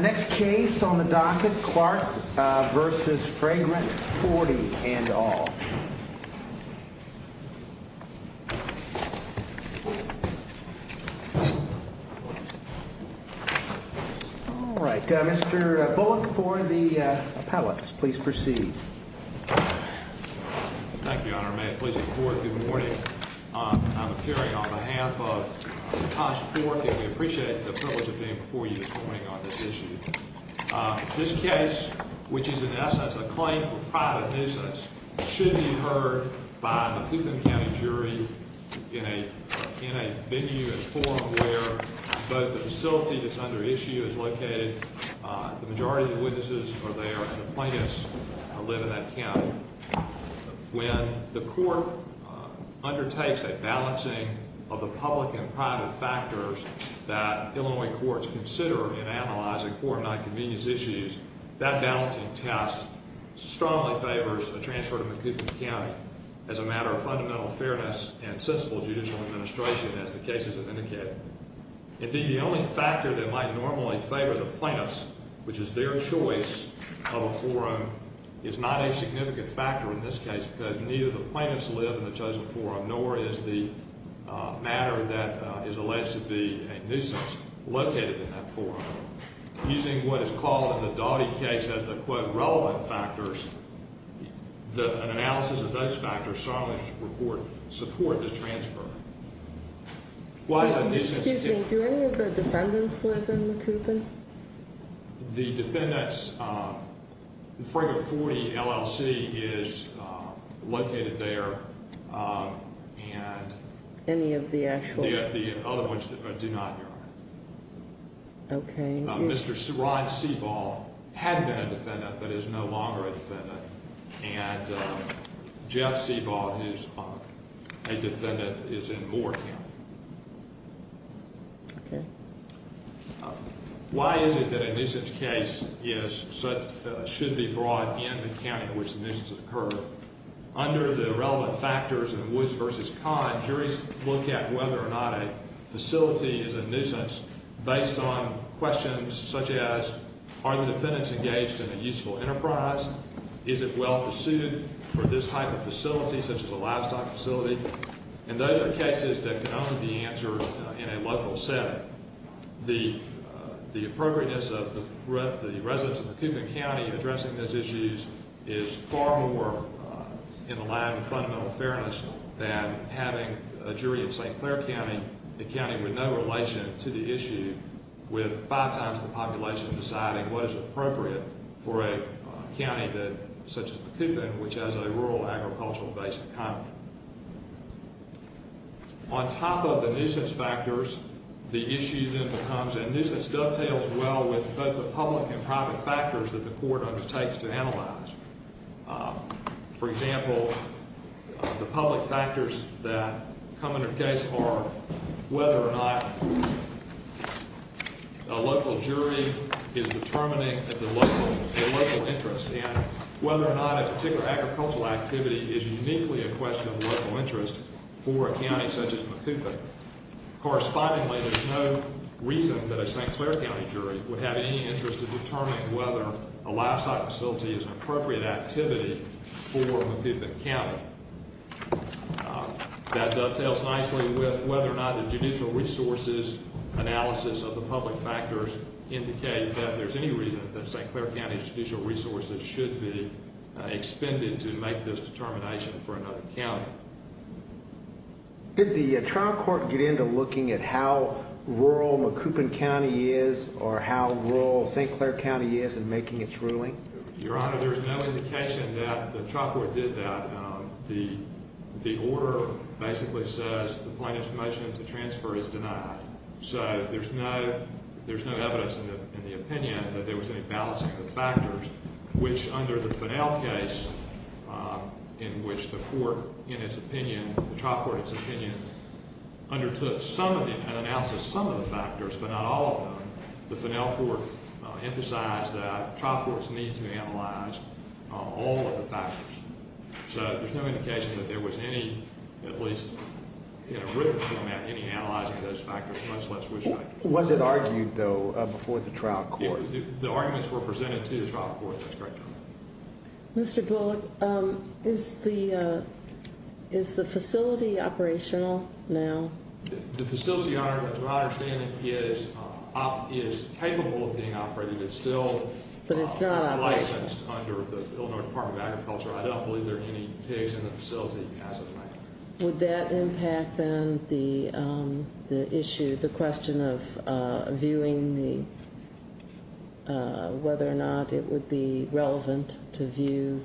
Next case on the docket, Clark v. Fragrant 40, and all. Alright, Mr. Bullock for the appellate. Please proceed. Thank you, Your Honor. May it please the Court, good morning. I'm appearing on behalf of Tosh Pork, and we appreciate the privilege of being before you this morning on this issue. This case, which is in essence a claim for private nuisance, should be heard by a Coupon County jury in a venue and forum where both the facility that's under issue is located, the majority of the witnesses are there, and the plaintiffs live in that county. When the Court undertakes a balancing of the public and private factors that Illinois courts consider in analyzing foreign non-convenience issues, that balancing test strongly favors a transfer to McCoupin County as a matter of fundamental fairness and sensible judicial administration, as the cases have indicated. Indeed, the only factor that might normally favor the plaintiffs, which is their choice of a forum, is not a significant factor in this case because neither the plaintiffs live in the chosen forum, nor is the matter that is alleged to be a nuisance located in that forum. Using what is called in the Daugherty case as the, quote, relevant factors, an analysis of those factors strongly support this transfer. Excuse me, do any of the defendants live in McCoupin? The defendants, the Fraga 40 LLC is located there. Any of the actual? The other ones do not, Your Honor. Okay. Mr. Ron Sebaugh had been a defendant, but is no longer a defendant, and Jeff Sebaugh, who's a defendant, is in Moore County. Okay. Why is it that a nuisance case should be brought in the county in which the nuisance occurred? Under the relevant factors in Woods v. Conn, juries look at whether or not a facility is a nuisance based on questions such as, are the defendants engaged in a useful enterprise? Is it well-pursued for this type of facility, such as a livestock facility? And those are cases that can only be answered in a local setting. The appropriateness of the residents of McCoupin County addressing those issues is far more in the line of fundamental fairness than having a jury in St. Clair County, a county with no relation to the issue, with five times the population deciding what is appropriate for a county such as McCoupin, which has a rural agricultural-based economy. On top of the nuisance factors, the issue then becomes, and nuisance dovetails well with both the public and private factors that the court undertakes to analyze. For example, the public factors that come under case are whether or not a local jury is determining a local interest, and whether or not a particular agricultural activity is uniquely a question of local interest for a county such as McCoupin. Correspondingly, there's no reason that a St. Clair County jury would have any interest in determining whether a livestock facility is an appropriate activity for McCoupin County. That dovetails nicely with whether or not the judicial resources analysis of the public factors indicate that there's any reason that St. Clair County's judicial resources should be expended to make this determination for another county. Did the trial court get into looking at how rural McCoupin County is or how rural St. Clair County is in making its ruling? Your Honor, there's no indication that the trial court did that. The order basically says the plaintiff's motion to transfer is denied. So there's no evidence in the opinion that there was any balancing of the factors, which under the Finnell case in which the court in its opinion, the trial court in its opinion, undertook some of the analysis of some of the factors but not all of them, the Finnell court emphasized that trial courts need to analyze all of the factors. So there's no indication that there was any, at least in a written format, any analyzing of those factors. Was it argued, though, before the trial court? The arguments were presented to the trial court. That's correct, Your Honor. Mr. Bullock, is the facility operational now? The facility, to my understanding, is capable of being operated. It's still licensed under the Illinois Department of Agriculture. I don't believe there are any pigs in the facility as of right now. Would that impact then the issue, the question of viewing whether or not it would be relevant to view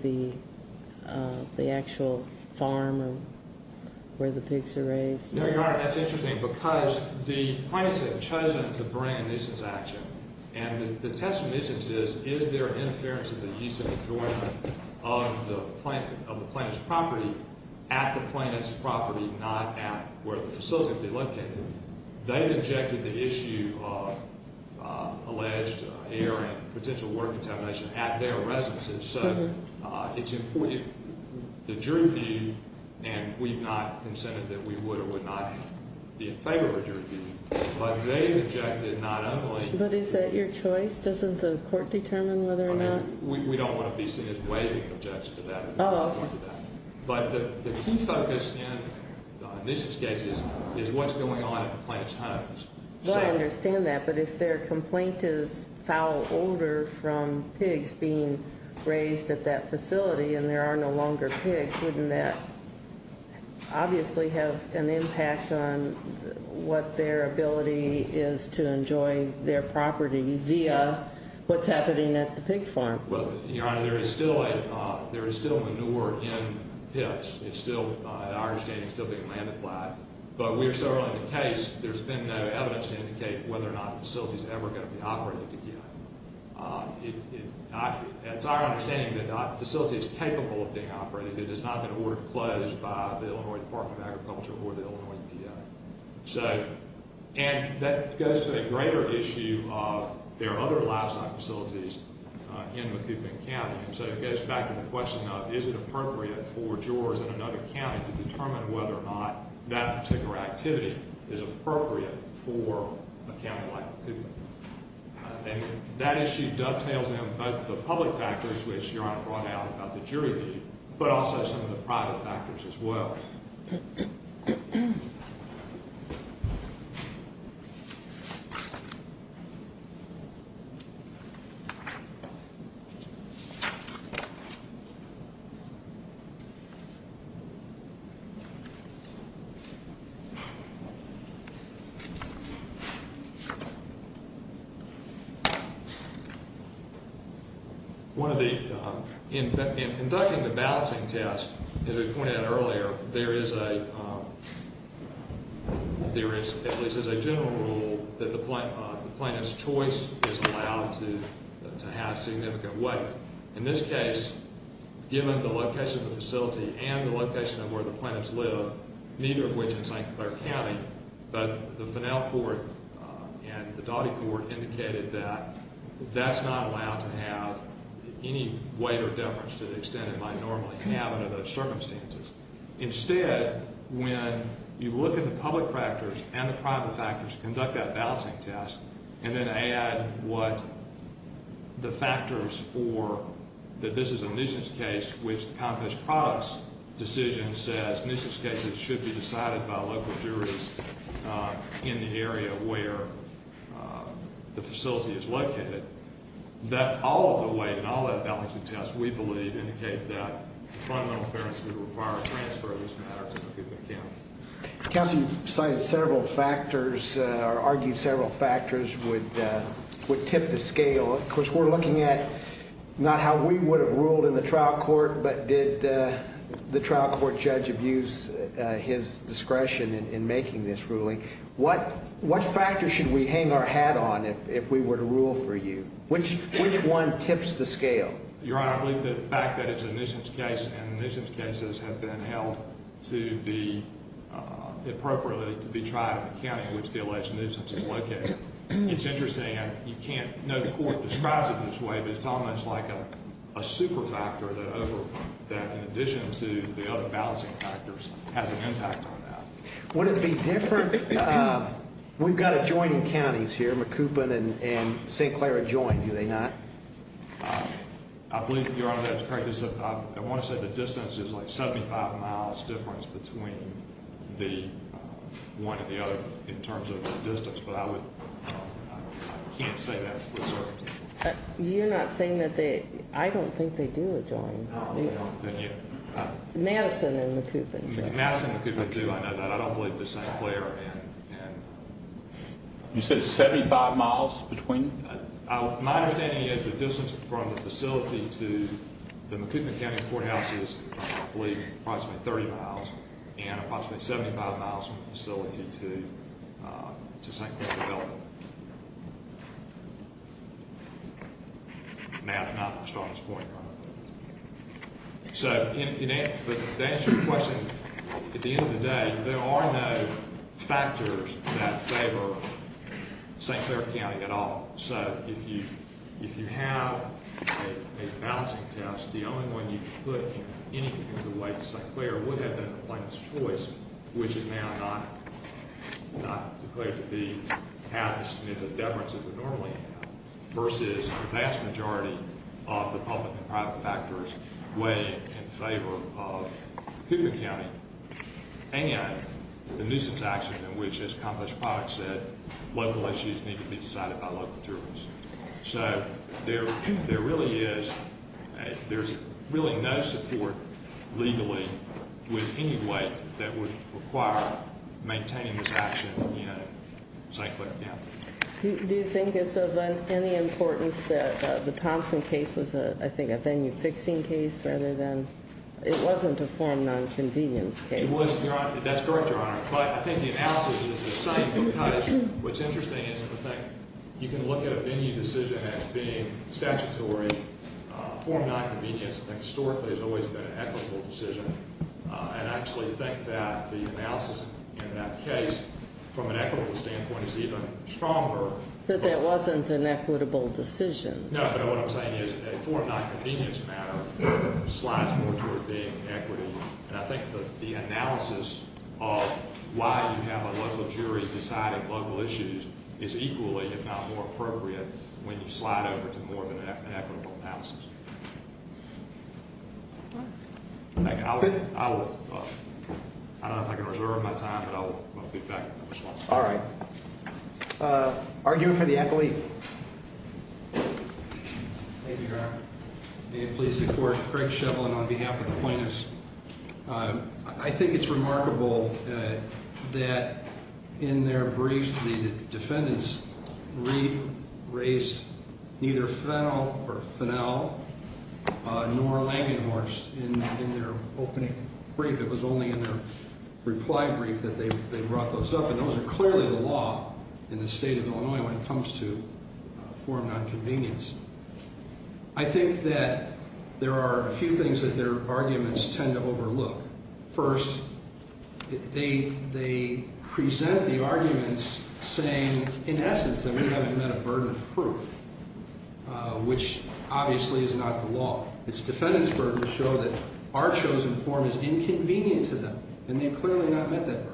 the actual farm where the pigs are raised? No, Your Honor, that's interesting because the plaintiffs have chosen to bring a nuisance action. And the test of nuisance is, is there interference in the use and enjoyment of the plaintiff's property at the plaintiff's property, not at where the facility would be located? They've injected the issue of alleged air and potential water contamination at their residences. So it's important, the jury view, and we've not consented that we would or would not be in favor of a jury view, but they've injected not only. But is that your choice? Doesn't the court determine whether or not? We don't want to be seen as waiving an objection to that. Oh, okay. But the key focus in nuisance cases is what's going on at the plaintiff's homes. Well, I understand that, but if their complaint is foul odor from pigs being raised at that facility and there are no longer pigs, wouldn't that obviously have an impact on what their ability is to enjoy their property via what's happening at the pig farm? Well, Your Honor, there is still manure in pits. It's still, in our understanding, still being land applied. But we are so early in the case, there's been no evidence to indicate whether or not the facility is ever going to be operated again. It's our understanding that the facility is capable of being operated. It has not been ordered closed by the Illinois Department of Agriculture or the Illinois EPA. And that goes to a greater issue of there are other livestock facilities in Macoubin County. And so it goes back to the question of is it appropriate for jurors in another county to determine whether or not that particular activity is appropriate for a county like Macoubin. And that issue dovetails in both the public factors, which Your Honor brought out about the jury leave, but also some of the private factors as well. In conducting the balancing test, as we pointed out earlier, there is a general rule that the plaintiff's choice is allowed to have significant weight. In this case, given the location of the facility and the location of where the plaintiffs live, neither of which in St. Clair County, both the Fennel Court and the Daughty Court indicated that that's not allowed to have any weight or deference to the extent it might normally have under those circumstances. Instead, when you look at the public factors and the private factors to conduct that balancing test and then add what the factors for that this is a nuisance case, which the Comcast products decision says nuisance cases should be decided by local juries in the area where the facility is located, that all of the weight and all of the balancing tests we believe indicate that the fundamental clearance would require a transfer of this matter to Macoubin County. Counsel, you've cited several factors or argued several factors would tip the scale. Of course, we're looking at not how we would have ruled in the trial court, but did the trial court judge abuse his discretion in making this ruling? What factors should we hang our hat on if we were to rule for you? Which one tips the scale? Your Honor, I believe the fact that it's a nuisance case and the nuisance cases have been held to be appropriately to be tried in the county in which the alleged nuisance is located. It's interesting. You can't know the court describes it this way, but it's almost like a super factor that in addition to the other balancing factors has an impact on that. Would it be different? We've got adjoining counties here, Macoubin and St. Clair adjoined, do they not? I believe, Your Honor, that's correct. I want to say the distance is like 75 miles difference between the one and the other in terms of distance, but I can't say that with certainty. You're not saying that they – I don't think they do adjoin. No, then you – Madison and Macoubin do. Madison and Macoubin do. I know that. I don't believe that St. Clair and – You said 75 miles between? My understanding is the distance from the facility to the Macoubin County Courthouse is, I believe, approximately 30 miles and approximately 75 miles from the facility to St. Clair development. Math is not the strongest point, Your Honor. So to answer your question, at the end of the day, there are no factors that favor St. Clair County at all. So if you have a balancing test, the only one you can put in any particular way to St. Clair would have been a plaintiff's choice, which is now not declared to have the significant difference it would normally have, versus the vast majority of the public and private factors weighing in favor of Macoubin County and the nuisance action in which, as accomplished product said, local issues need to be decided by local jurors. So there really is – there's really no support legally with any weight that would require maintaining this action in St. Clair County. Do you think it's of any importance that the Thompson case was, I think, a venue-fixing case rather than – it wasn't a form-nonconvenience case. It wasn't, Your Honor. That's correct, Your Honor. But I think the analysis is the same because what's interesting is, I think, you can look at a venue decision as being statutory, form-nonconvenience. Historically, it's always been an equitable decision, and I actually think that the analysis in that case, from an equitable standpoint, is even stronger. But that wasn't an equitable decision. No, but what I'm saying is a form-nonconvenience matter slides more toward being equity, and I think that the analysis of why you have a local jury deciding local issues is equally, if not more, appropriate when you slide over to more of an equitable analysis. I'll – I don't know if I can reserve my time, but I'll get back to the response. All right. Argue for the accolade. Thank you, Your Honor. May it please the Court, Craig Shevlin on behalf of the plaintiffs. I think it's remarkable that in their brief, the defendants raised neither Fennell nor Langenhorst in their opening brief. It was only in their reply brief that they brought those up, and those are clearly the law in the state of Illinois when it comes to form-nonconvenience. I think that there are a few things that their arguments tend to overlook. First, they present the arguments saying, in essence, that we haven't met a burden of proof, which obviously is not the law. Its defendants' burdens show that our chosen form is inconvenient to them, and they clearly have not met that burden.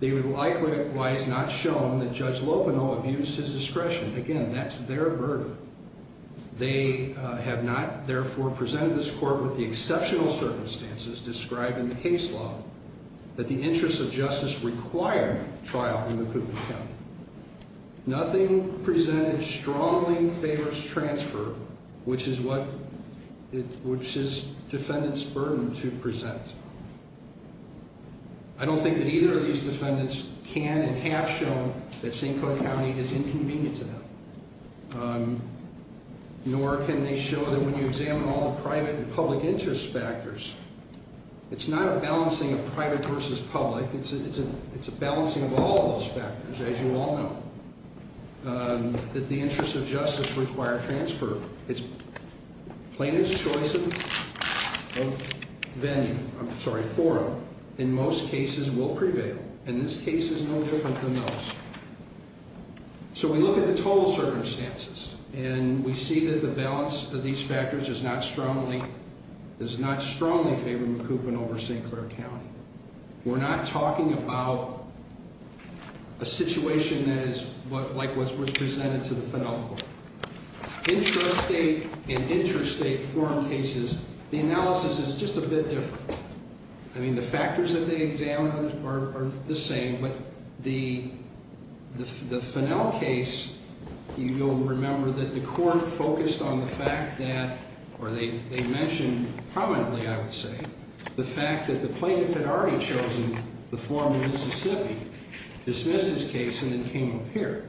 They would likewise not have shown that Judge Lopino abused his discretion. Again, that's their burden. They have not, therefore, presented this Court with the exceptional circumstances described in the case law that the interests of justice require trial in the court of appeal. Nothing presented strongly favors transfer, which is what – which is defendants' burden to present. I don't think that either of these defendants can and have shown that St. Clair County is inconvenient to them, nor can they show that when you examine all the private and public interest factors, it's not a balancing of private versus public. It's a balancing of all those factors, as you all know, that the interests of justice require transfer. It's plaintiff's choice of venue – I'm sorry, forum in most cases will prevail, and this case is no different than those. So we look at the total circumstances, and we see that the balance of these factors does not strongly favor recoupment over St. Clair County. We're not talking about a situation that is like what was presented to the final court. Intrastate and interstate forum cases, the analysis is just a bit different. I mean, the factors that they examined are the same, but the – the Fennell case, you'll remember that the court focused on the fact that – or they mentioned prominently, I would say, the fact that the plaintiff had already chosen the forum in Mississippi, dismissed his case, and then came up here.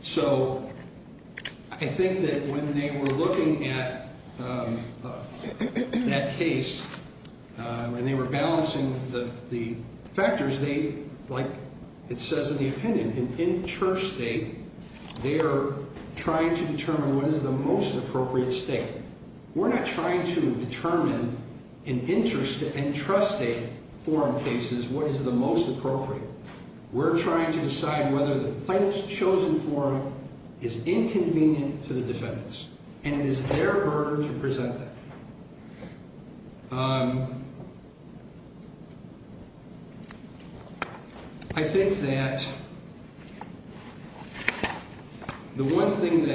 So I think that when they were looking at that case and they were balancing the factors, they – like it says in the opinion, in intrastate, they are trying to determine what is the most appropriate state. We're not trying to determine in intrastate forum cases what is the most appropriate. We're trying to decide whether the plaintiff's chosen forum is inconvenient to the defendants, and it is their burden to present that. I think that the one thing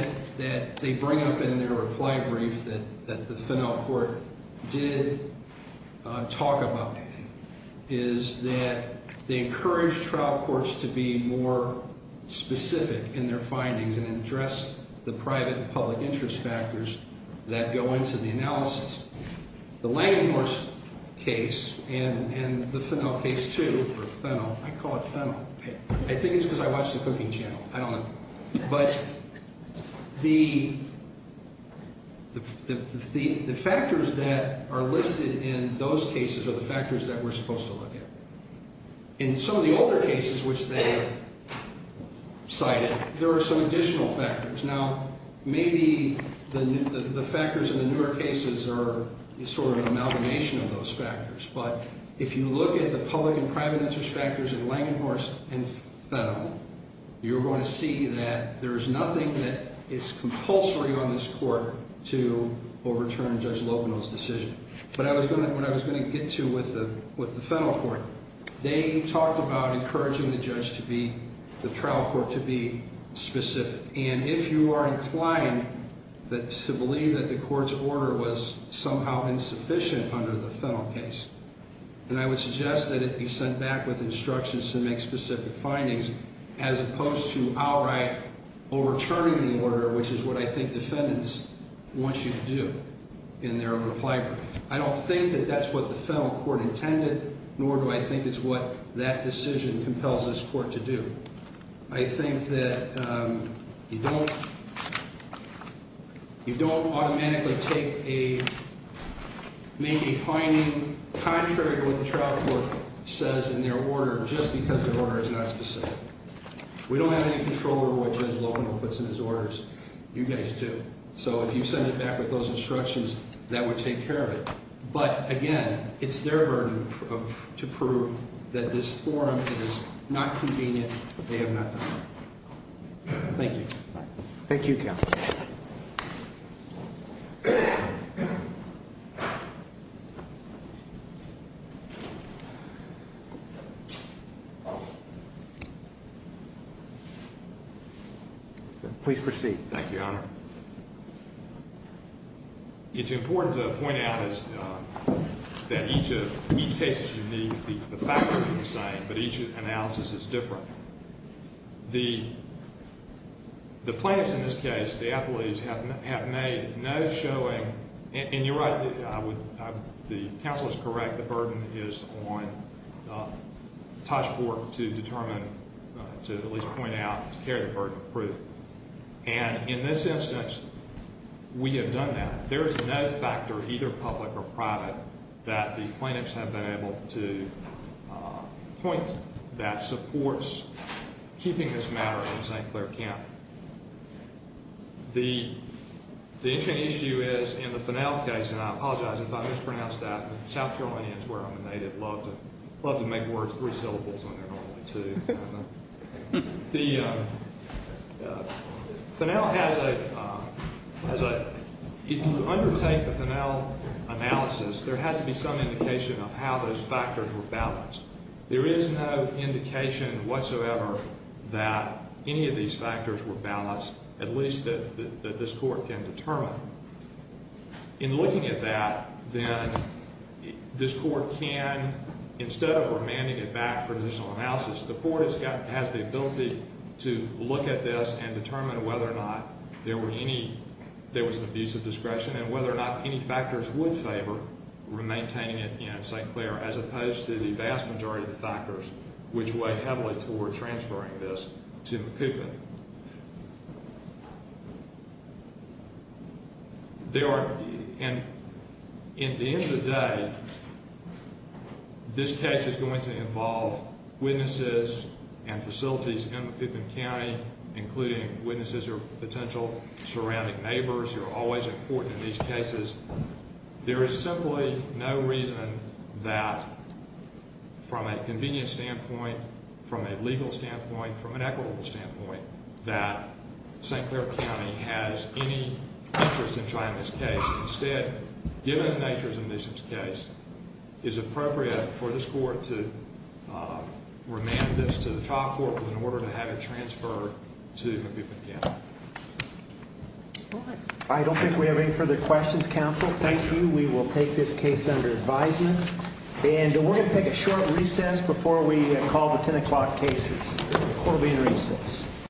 that they bring up in their reply brief that the Fennell court did talk about is that they encouraged trial courts to be more specific in their findings and address the private and public interest factors that go into the analysis. The Langenhorst case and the Fennell case, too, or Fennell, I call it Fennell. I think it's because I watch the cooking channel. I don't know. But the factors that are listed in those cases are the factors that we're supposed to look at. In some of the older cases, which they cited, there are some additional factors. Now, maybe the factors in the newer cases are sort of an amalgamation of those factors, but if you look at the public and private interest factors of Langenhorst and Fennell, you're going to see that there is nothing that is compulsory on this court to overturn Judge Loveno's decision. But what I was going to get to with the Fennell court, they talked about encouraging the trial court to be specific. And if you are inclined to believe that the court's order was somehow insufficient under the Fennell case, then I would suggest that it be sent back with instructions to make specific findings as opposed to outright overturning the order, which is what I think defendants want you to do in their reply. I don't think that that's what the Fennell court intended, nor do I think it's what that decision compels this court to do. I think that you don't automatically make a finding contrary to what the trial court says in their order just because the order is not specific. We don't have any control over what Judge Loveno puts in his orders. You guys do. So if you send it back with those instructions, that would take care of it. But, again, it's their burden to prove that this forum is not convenient. They have not done that. Thank you. Thank you, counsel. Please proceed. Thank you, Your Honor. It's important to point out that each case is unique. The factors are the same, but each analysis is different. The plaintiffs in this case, the athletes, have made no showing. And you're right. The counsel is correct. The burden is on Tosh Fork to determine, to at least point out, to carry the burden of proof. And in this instance, we have done that. There is no factor, either public or private, that the plaintiffs have been able to point that supports keeping this matter in St. Clair County. The issue is in the Finnell case, and I apologize if I mispronounce that. South Carolinians, where I'm a native, love to make words three syllables when they're normally two. The Finnell has a, if you undertake the Finnell analysis, there has to be some indication of how those factors were balanced. There is no indication whatsoever that any of these factors were balanced, at least that this court can determine. In looking at that, then, this court can, instead of remanding it back for additional analysis, the court has the ability to look at this and determine whether or not there was an abuse of discretion and whether or not any factors would favor maintaining it in St. Clair, as opposed to the vast majority of the factors which weigh heavily toward transferring this to Macoupin. There are, and at the end of the day, this case is going to involve witnesses and facilities in Macoupin County, including witnesses or potential surrounding neighbors who are always important in these cases. There is simply no reason that, from a convenience standpoint, from a legal standpoint, from an equitable standpoint, that St. Clair County has any interest in trying this case. Instead, given the nature of the case, is it appropriate for this court to remand this to the trial court in order to have it transferred to Macoupin County? I don't think we have any further questions, counsel. Thank you. We will take this case under advisement. And we're going to take a short recess before we call the 10 o'clock cases.